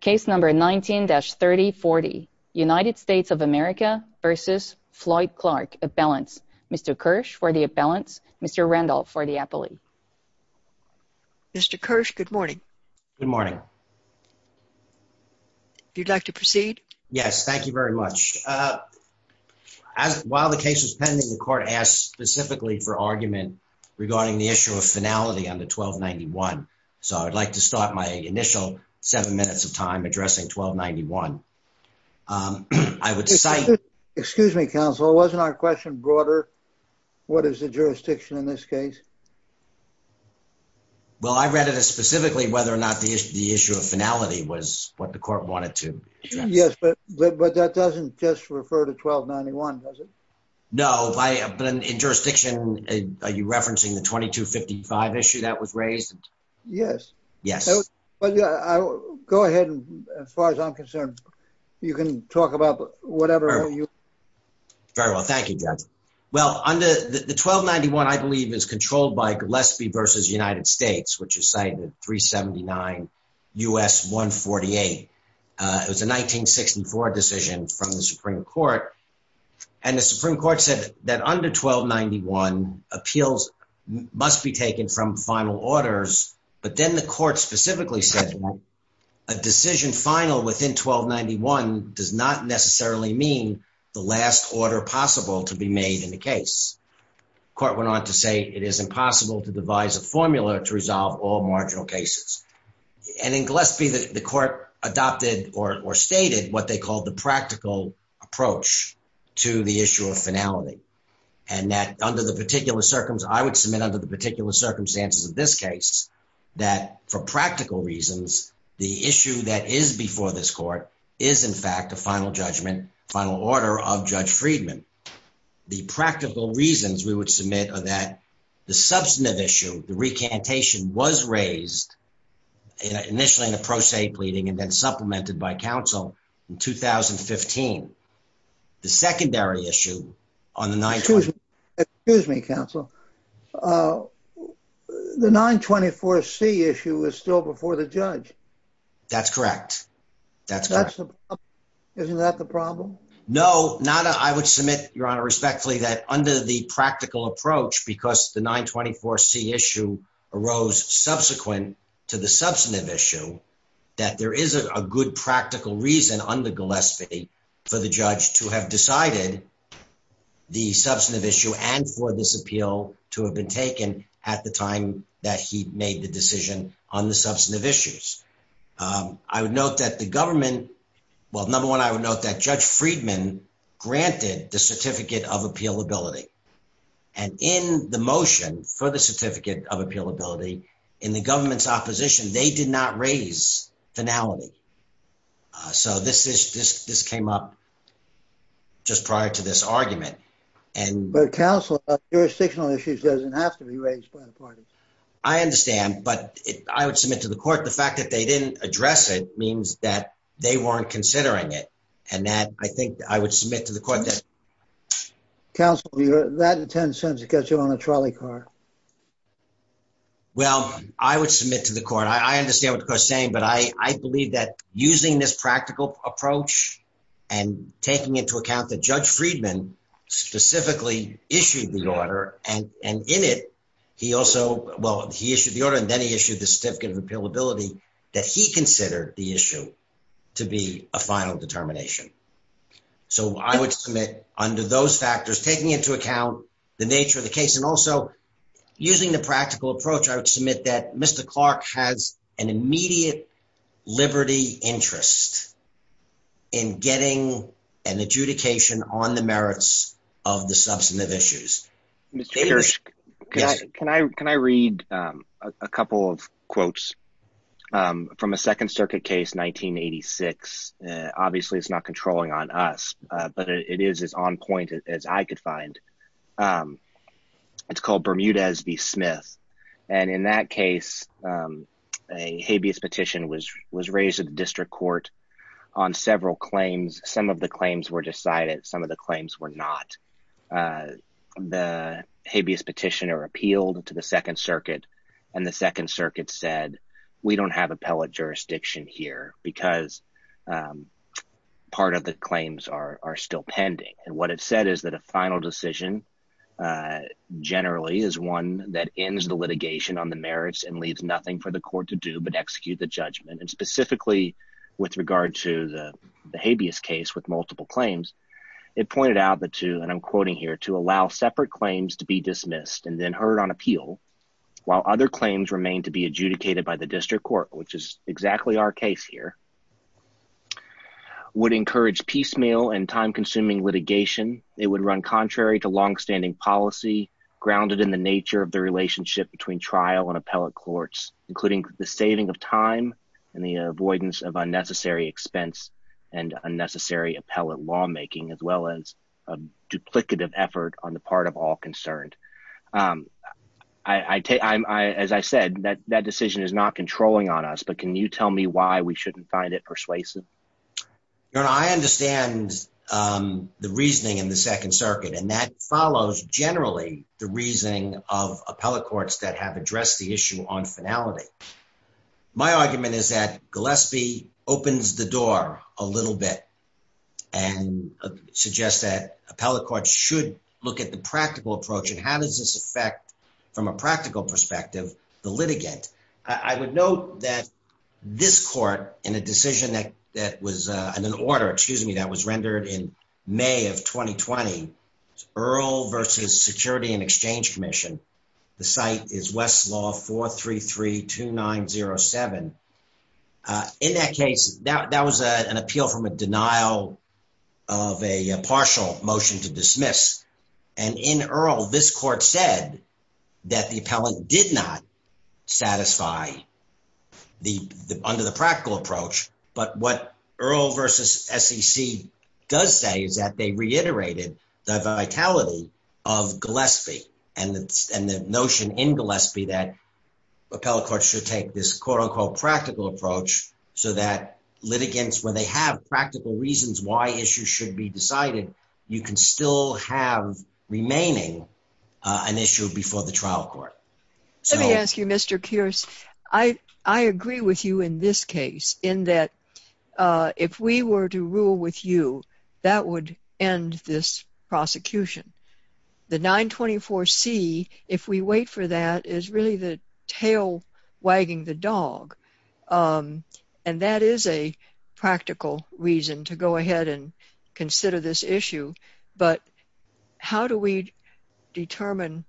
Case number 19-3040 United States of America versus Floyd Clark a balance. Mr. Kersh for the imbalance. Mr. Randolph for the appellee Mr. Kersh, good morning. Good morning You'd like to proceed yes, thank you very much While the case is pending the court asked specifically for argument regarding the issue of finality on the 1291 So I'd like to start my initial seven minutes of time addressing 1291 I would say, excuse me, counsel wasn't our question broader. What is the jurisdiction in this case. Well, I read it as specifically whether or not the issue of finality was what the court wanted to Yes, but, but that doesn't just refer to 1291 does it No, I have been in jurisdiction. Are you referencing the 2255 issue that was raised. Yes, yes, but yeah, go ahead. As far as I'm concerned, you can talk about whatever you Very well. Thank you. Well, under the 1291 I believe is controlled by Gillespie versus United States, which is cited 379 US 148 It was a 1964 decision from the Supreme Court and the Supreme Court said that under 1291 appeals must be taken from final orders, but then the court specifically said A decision final within 1291 does not necessarily mean the last order possible to be made in the case. Court went on to say it is impossible to devise a formula to resolve all marginal cases and in Gillespie that the court adopted or stated what they call the practical approach to the issue of finality. And that under the particular circumstance I would submit under the particular circumstances of this case. That for practical reasons, the issue that is before this court is in fact a final judgment final order of Judge Friedman. The practical reasons we would submit or that the substantive issue the recantation was raised initially in the pro se pleading and then supplemented by Council in 2015 the secondary issue on the night. Excuse me, counsel. The 924 C issue is still before the judge. That's correct. That's Isn't that the problem. No, not. I would submit your honor respectfully that under the practical approach because the 924 C issue arose subsequent to the substantive issue. That there is a good practical reason under Gillespie for the judge to have decided The substantive issue and for this appeal to have been taken at the time that he made the decision on the substantive issues. I would note that the government. Well, number one, I would note that Judge Friedman granted the certificate of appeal ability and in the motion for the certificate of appeal ability in the government's opposition. They did not raise finality. So this is this this came up. Just prior to this argument and But counsel jurisdictional issues doesn't have to be raised by the party. I understand, but I would submit to the court. The fact that they didn't address it means that they weren't considering it and that I think I would submit to the court that Council that 10 cents. It gets you on a trolley car. Well, I would submit to the court. I understand what you're saying, but I believe that using this practical approach and taking into account that Judge Friedman Specifically issued the order and and in it. He also well he issued the order and then he issued the certificate of appeal ability that he considered the issue to be a final determination. So I would submit under those factors, taking into account the nature of the case and also using the practical approach. I would submit that Mr. Clark has an immediate liberty interest in getting an adjudication on the merits of the substantive issues. Can I, can I read a couple of quotes From a Second Circuit case 1986 obviously it's not controlling on us, but it is on point as I could find It's called Bermuda as the Smith. And in that case, a habeas petition was was raised at the district court on several claims. Some of the claims were decided. Some of the claims were not The habeas petition or appealed to the Second Circuit and the Second Circuit said we don't have appellate jurisdiction here because Part of the claims are still pending and what it said is that a final decision. Generally is one that ends the litigation on the merits and leaves nothing for the court to do but execute the judgment and specifically With regard to the habeas case with multiple claims it pointed out the two and I'm quoting here to allow separate claims to be dismissed and then heard on appeal, while other claims remain to be adjudicated by the district court, which is exactly our case here. Would encourage piecemeal and time consuming litigation, it would run contrary to long standing policy grounded in the nature of the relationship between trial and appellate courts, including the saving of time. And the avoidance of unnecessary expense and unnecessary appellate lawmaking, as well as a duplicative effort on the part of all concerned. I take I'm I, as I said that that decision is not controlling on us. But can you tell me why we shouldn't find it persuasive. You know, I understand the reasoning in the Second Circuit and that follows. Generally, the reasoning of appellate courts that have addressed the issue on finality. My argument is that Gillespie opens the door a little bit and suggest that appellate courts should look at the practical approach and how does this affect In that case that that was a an appeal from a denial of a partial motion to dismiss and in Earl. This court said that the appellant did not satisfy The under the practical approach, but what Earl versus SEC does say is that they reiterated the vitality of Gillespie and and the notion in Gillespie that Appellate courts should take this quote unquote practical approach so that litigants when they have practical reasons why issue should be decided, you can still have remaining an issue before the trial court. So let me ask you, Mr. Curious, I, I agree with you in this case in that if we were to rule with you that would end this prosecution. The 924 see if we wait for that is really the tail wagging the dog. And that is a practical reason to go ahead and consider this issue. But how do we determine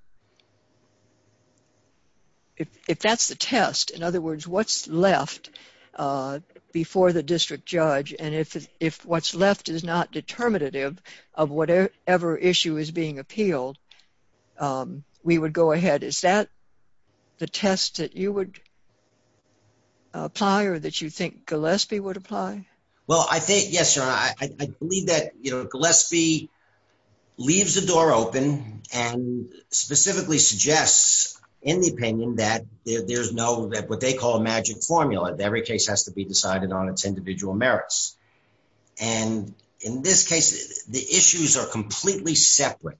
If that's the test. In other words, what's left Before the district judge and if if what's left is not determinative of whatever issue is being appealed We would go ahead. Is that the test that you would Apply or that you think Gillespie would apply. Well, I think, yes, I believe that, you know, Gillespie leaves the door open and specifically suggests in the opinion that there's no that what they call a magic formula. Every case has to be decided on its individual merits and in this case, the issues are completely separate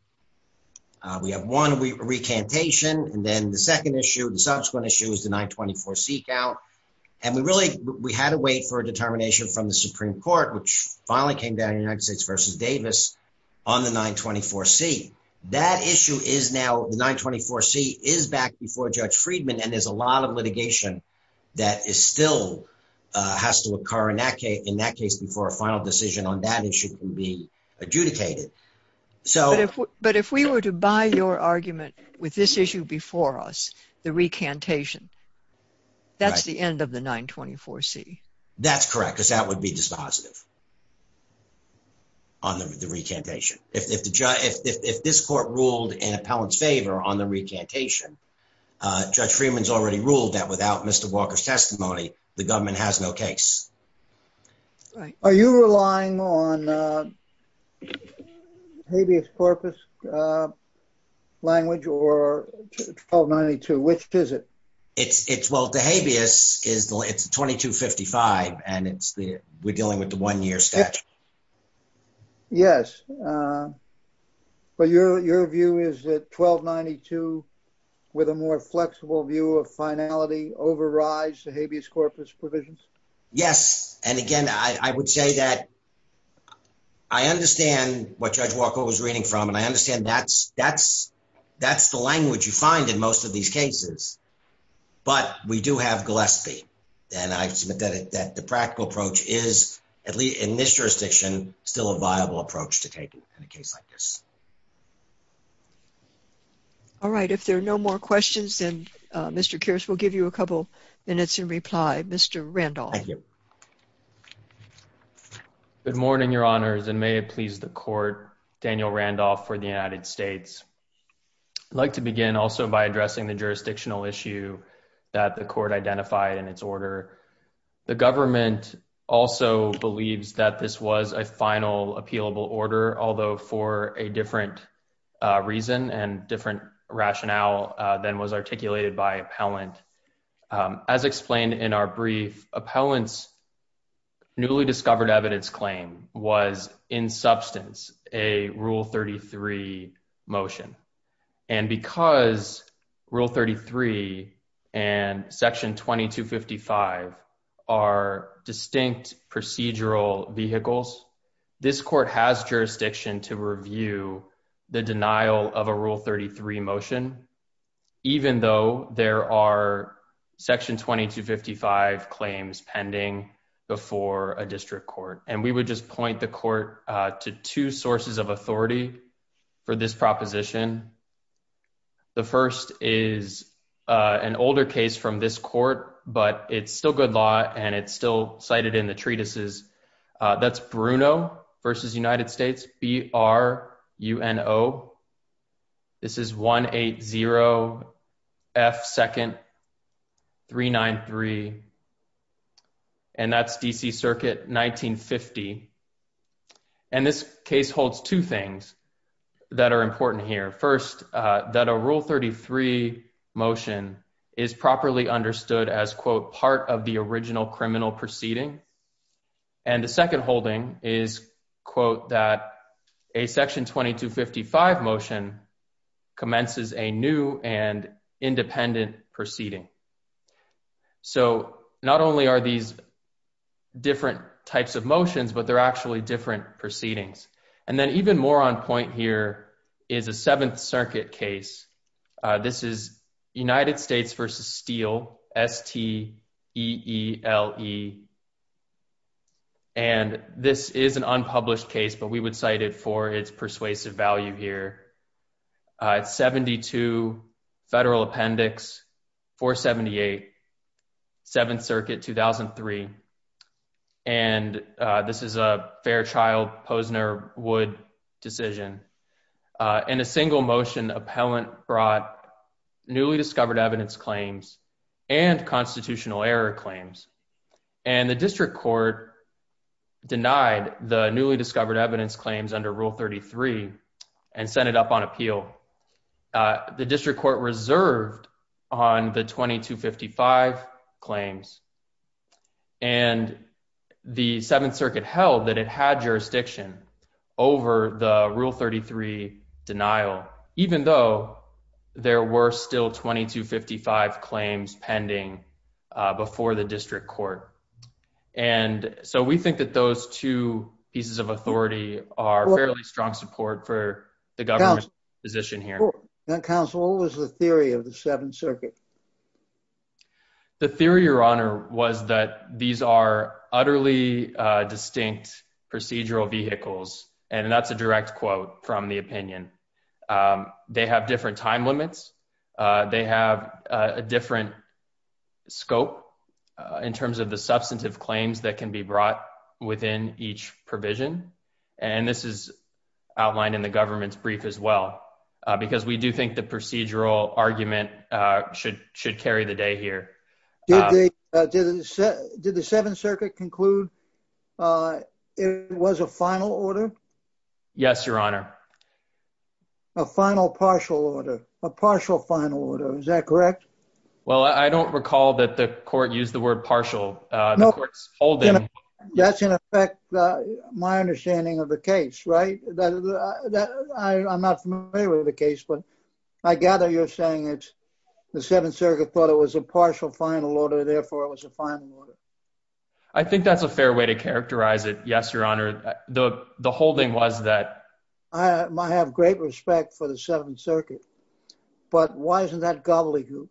We have one we recantation. And then the second issue and subsequent issues to 924 seek out And we really, we had to wait for a determination from the Supreme Court, which finally came down United States versus Davis. On the 924 see that issue is now 924 see is back before Judge Friedman and there's a lot of litigation that is still has to occur in that case. In that case, before a final decision on that issue can be adjudicated so But if we were to buy your argument with this issue before us the recantation That's the end of the 924 see That's correct, because that would be dispositive On the recantation if the judge if this court ruled in appellant's favor on the recantation Judge Freeman's already ruled that without Mr. Walker's testimony, the government has no case. Are you relying on Habeas corpus Language or 1292 which is it It's it's well the habeas is the it's 2255 and it's the we're dealing with the one year statute. Yes. But your, your view is that 1292 with a more flexible view of finality overrides the habeas corpus provisions. Yes. And again, I would say that I understand what Judge Walker was reading from and I understand that's that's that's the language you find in most of these cases, but we do have Gillespie, then I submit that it that the practical approach is at least in this jurisdiction still a viable approach to take in a case like this. All right. If there are no more questions and Mr. Curse will give you a couple minutes and reply. Mr. Randall You Good morning, Your Honors, and may it please the court, Daniel Randolph for the United States. Like to begin also by addressing the jurisdictional issue that the court identified in its order. The government also believes that this was a final appeal order, although for a different Reason and different rationale than was articulated by appellant as explained in our brief appellants. newly discovered evidence claim was in substance, a rule 33 motion and because rule 33 and section 2255 are distinct procedural vehicles. This court has jurisdiction to review the denial of a rule 33 motion, even though there are section 2255 claims pending before a district court and we would just point the court to two sources of authority for this proposition. The first is an older case from this court, but it's still good law and it's still cited in the treatises. That's Bruno versus United States, B-R-U-N-O, this is 180 F 2nd 393 And that's DC Circuit 1950 And this case holds two things that are important here. First, that a rule 33 motion is properly understood as, quote, part of the original criminal proceeding. And the second holding is, quote, that a section 2255 motion commences a new and independent proceeding. So not only are these different types of motions, but they're actually different proceedings and then even more on point here is a Seventh Circuit case. This is United States versus Steele, S-T-E-E-L-E. And this is an unpublished case, but we would cite it for its persuasive value here. It's 72 Federal Appendix 478 Seventh Circuit 2003 And this is a Fairchild-Posner-Wood decision. In a single motion, appellant brought newly discovered evidence claims and constitutional error claims. And the district court denied the newly discovered evidence claims under Rule 33 and sent it up on appeal. The district court reserved on the 2255 claims. And the Seventh Circuit held that it had jurisdiction over the Rule 33 denial, even though there were still 2255 claims pending before the district court. And so we think that those two pieces of authority are fairly strong support for the government's position here. Counsel, what was the theory of the Seventh Circuit? The theory, Your Honor, was that these are utterly distinct procedural vehicles and that's a direct quote from the opinion. They have different time limits. They have a different scope in terms of the substantive claims that can be brought within each provision. And this is outlined in the government's brief as well because we do think the procedural argument should should carry the day here. Did the Seventh Circuit conclude it was a final order? Yes, Your Honor. A final partial order, a partial final order. Is that correct? Well, I don't recall that the court used the word partial. That's in effect my understanding of the case, right? I'm not familiar with the case, but I gather you're saying it's the Seventh Circuit thought it was a partial final order. Therefore, it was a final order. I think that's a fair way to characterize it. Yes, Your Honor. The holding was that I have great respect for the Seventh Circuit, but why isn't that gobbledygook?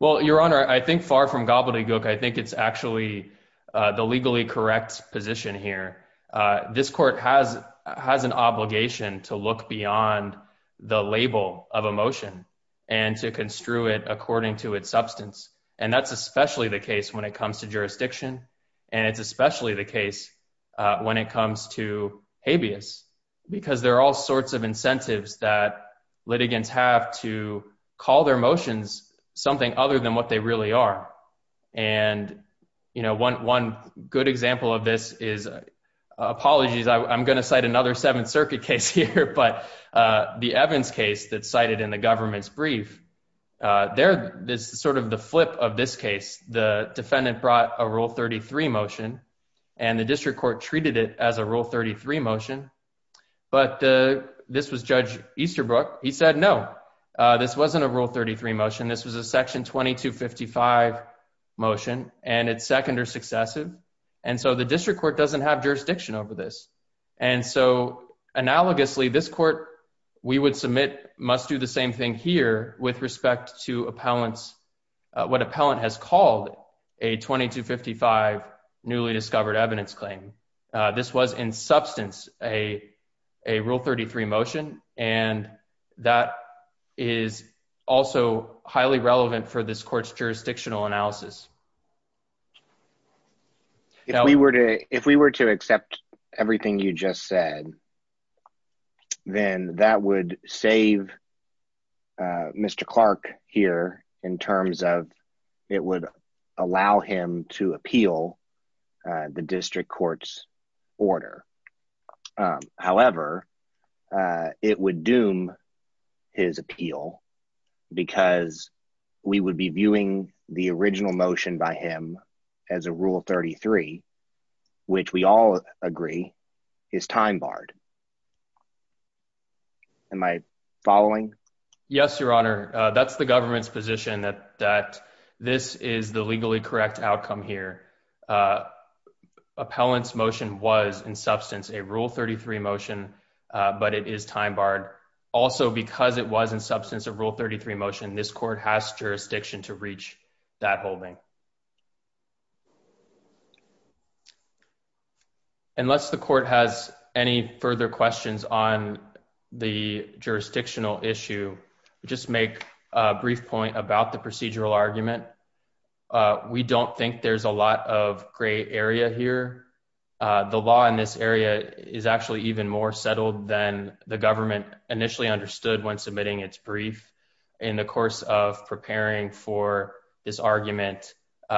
Well, Your Honor, I think far from gobbledygook. I think it's actually the legally correct position here. This court has an obligation to look beyond the label of a motion and to construe it according to its substance. And that's especially the case when it comes to jurisdiction. And it's especially the case when it comes to habeas because there are all sorts of incentives that litigants have to call their motions something other than what they really are. And, you know, one good example of this is, apologies, I'm going to cite another Seventh Circuit case here, but the Evans case that's cited in the government's brief. There is sort of the flip of this case. The defendant brought a Rule 33 motion and the district court treated it as a Rule 33 motion. But this was Judge Easterbrook. He said, no, this wasn't a Rule 33 motion. This was a Section 2255 motion, and it's second or successive. And so the district court doesn't have jurisdiction over this. And so analogously, this court, we would submit, must do the same thing here with respect to appellants, what appellant has called a 2255 newly discovered evidence claim. This was in substance a Rule 33 motion, and that is also highly relevant for this court's jurisdictional analysis. If we were to accept everything you just said, then that would save Mr. Clark here in terms of it would allow him to appeal the district court's order. However, it would doom his appeal because we would be viewing the original motion by him as a Rule 33, which we all agree is time barred. Am I following? Yes, Your Honor. That's the government's position that this is the legally correct outcome here. Appellant's motion was in substance a Rule 33 motion, but it is time barred. Also, because it was in substance a Rule 33 motion, this court has jurisdiction to reach that holding. Unless the court has any further questions on the jurisdictional issue, just make a brief point about the procedural argument. We don't think there's a lot of gray area here. The law in this area is actually even more settled than the government initially understood when submitting its brief in the course of preparing for this argument. We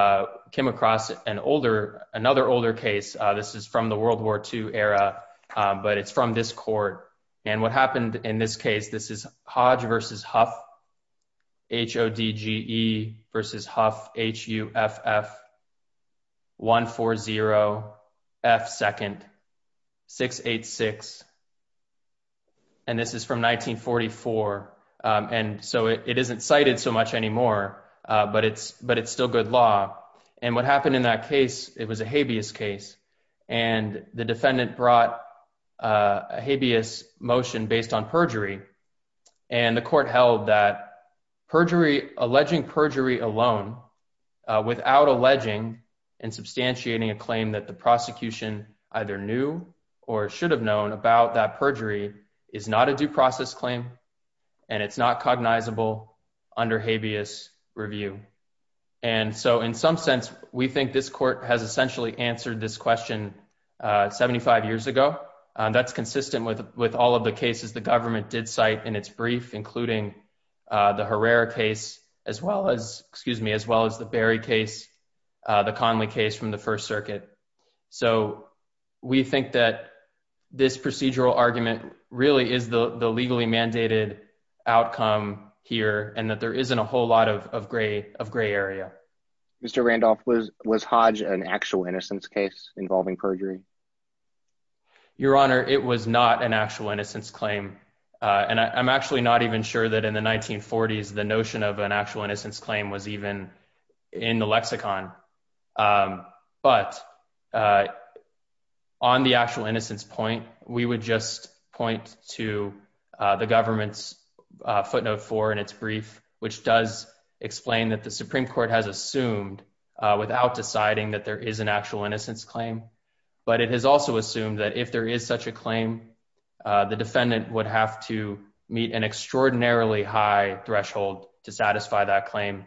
came across another older case. This is from the World War II era, but it's from this court. What happened in this case, this is Hodge v. Huff, H-O-D-G-E v. Huff, H-U-F-F, 1-4-0, F-2nd, 6-8-6. This is from 1944. It isn't cited so much anymore, but it's still good law. What happened in that case, it was a habeas case. The defendant brought a habeas motion based on perjury. The court held that alleging perjury alone without alleging and substantiating a claim that the prosecution either knew or should have known about that perjury is not a due process claim, and it's not cognizable under habeas review. In some sense, we think this court has essentially answered this question 75 years ago. That's consistent with all of the cases the government did cite in its brief, including the Herrera case, as well as the Berry case, the Conley case from the First Circuit. We think that this procedural argument really is the legally mandated outcome here and that there isn't a whole lot of gray area. Mr. Randolph, was Hodge an actual innocence case involving perjury? Your Honor, it was not an actual innocence claim. I'm actually not even sure that in the 1940s the notion of an actual innocence claim was even in the lexicon. But on the actual innocence point, we would just point to the government's footnote four in its brief, which does explain that the Supreme Court has assumed without deciding that there is an actual innocence claim. But it has also assumed that if there is such a claim, the defendant would have to meet an extraordinarily high threshold to satisfy that claim.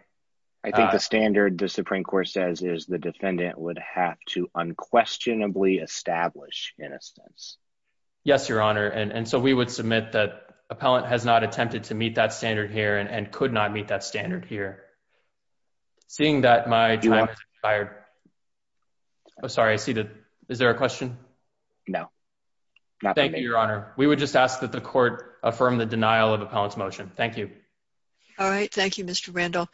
I think the standard the Supreme Court says is the defendant would have to unquestionably establish innocence. Yes, Your Honor. And so we would submit that appellant has not attempted to meet that standard here and could not meet that standard here. Seeing that my time has expired. Oh, sorry. I see that. Is there a question? No. Thank you, Your Honor. We would just ask that the court affirm the denial of appellant's motion. Thank you. All right. Thank you, Mr. Randall.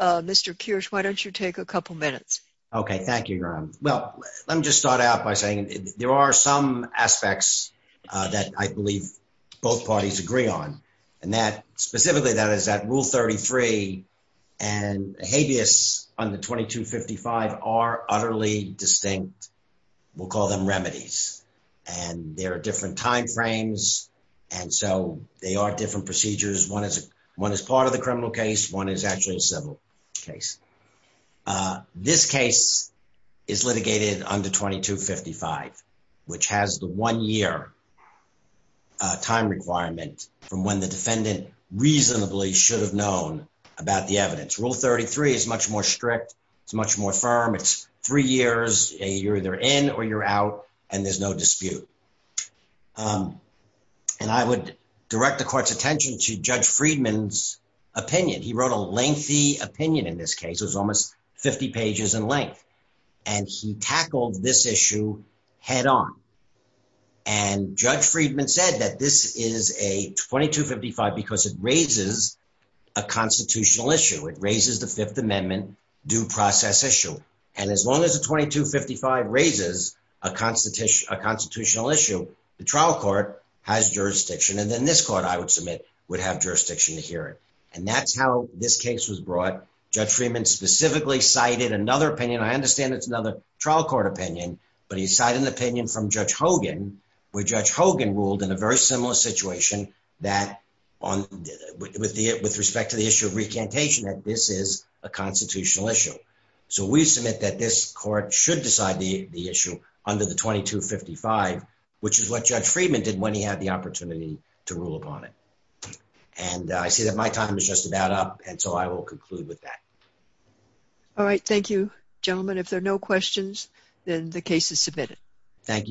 Mr. Kirsch, why don't you take a couple minutes? Okay. Thank you, Your Honor. Well, let me just start out by saying there are some aspects that I believe both parties agree on. Specifically, that is that Rule 33 and habeas under 2255 are utterly distinct. We'll call them remedies. And there are different timeframes. And so they are different procedures. One is part of the criminal case. One is actually a civil case. This case is litigated under 2255, which has the one-year time requirement from when the defendant reasonably should have known about the evidence. Rule 33 is much more strict. It's much more firm. It's three years. You're either in or you're out, and there's no dispute. And I would direct the court's attention to Judge Friedman's opinion. He wrote a lengthy opinion in this case. It was almost 50 pages in length. And he tackled this issue head on. And Judge Friedman said that this is a 2255 because it raises a constitutional issue. It raises the Fifth Amendment due process issue. And as long as the 2255 raises a constitutional issue, the trial court has jurisdiction. And then this court, I would submit, would have jurisdiction to hear it. And that's how this case was brought. Judge Friedman specifically cited another opinion. I understand it's another trial court opinion. But he cited an opinion from Judge Hogan, where Judge Hogan ruled in a very similar situation with respect to the issue of recantation that this is a constitutional issue. So we submit that this court should decide the issue under the 2255, which is what Judge Friedman did when he had the opportunity to rule upon it. And I see that my time is just about up, and so I will conclude with that. All right. Thank you, gentlemen. If there are no questions, then the case is submitted. Thank you very much.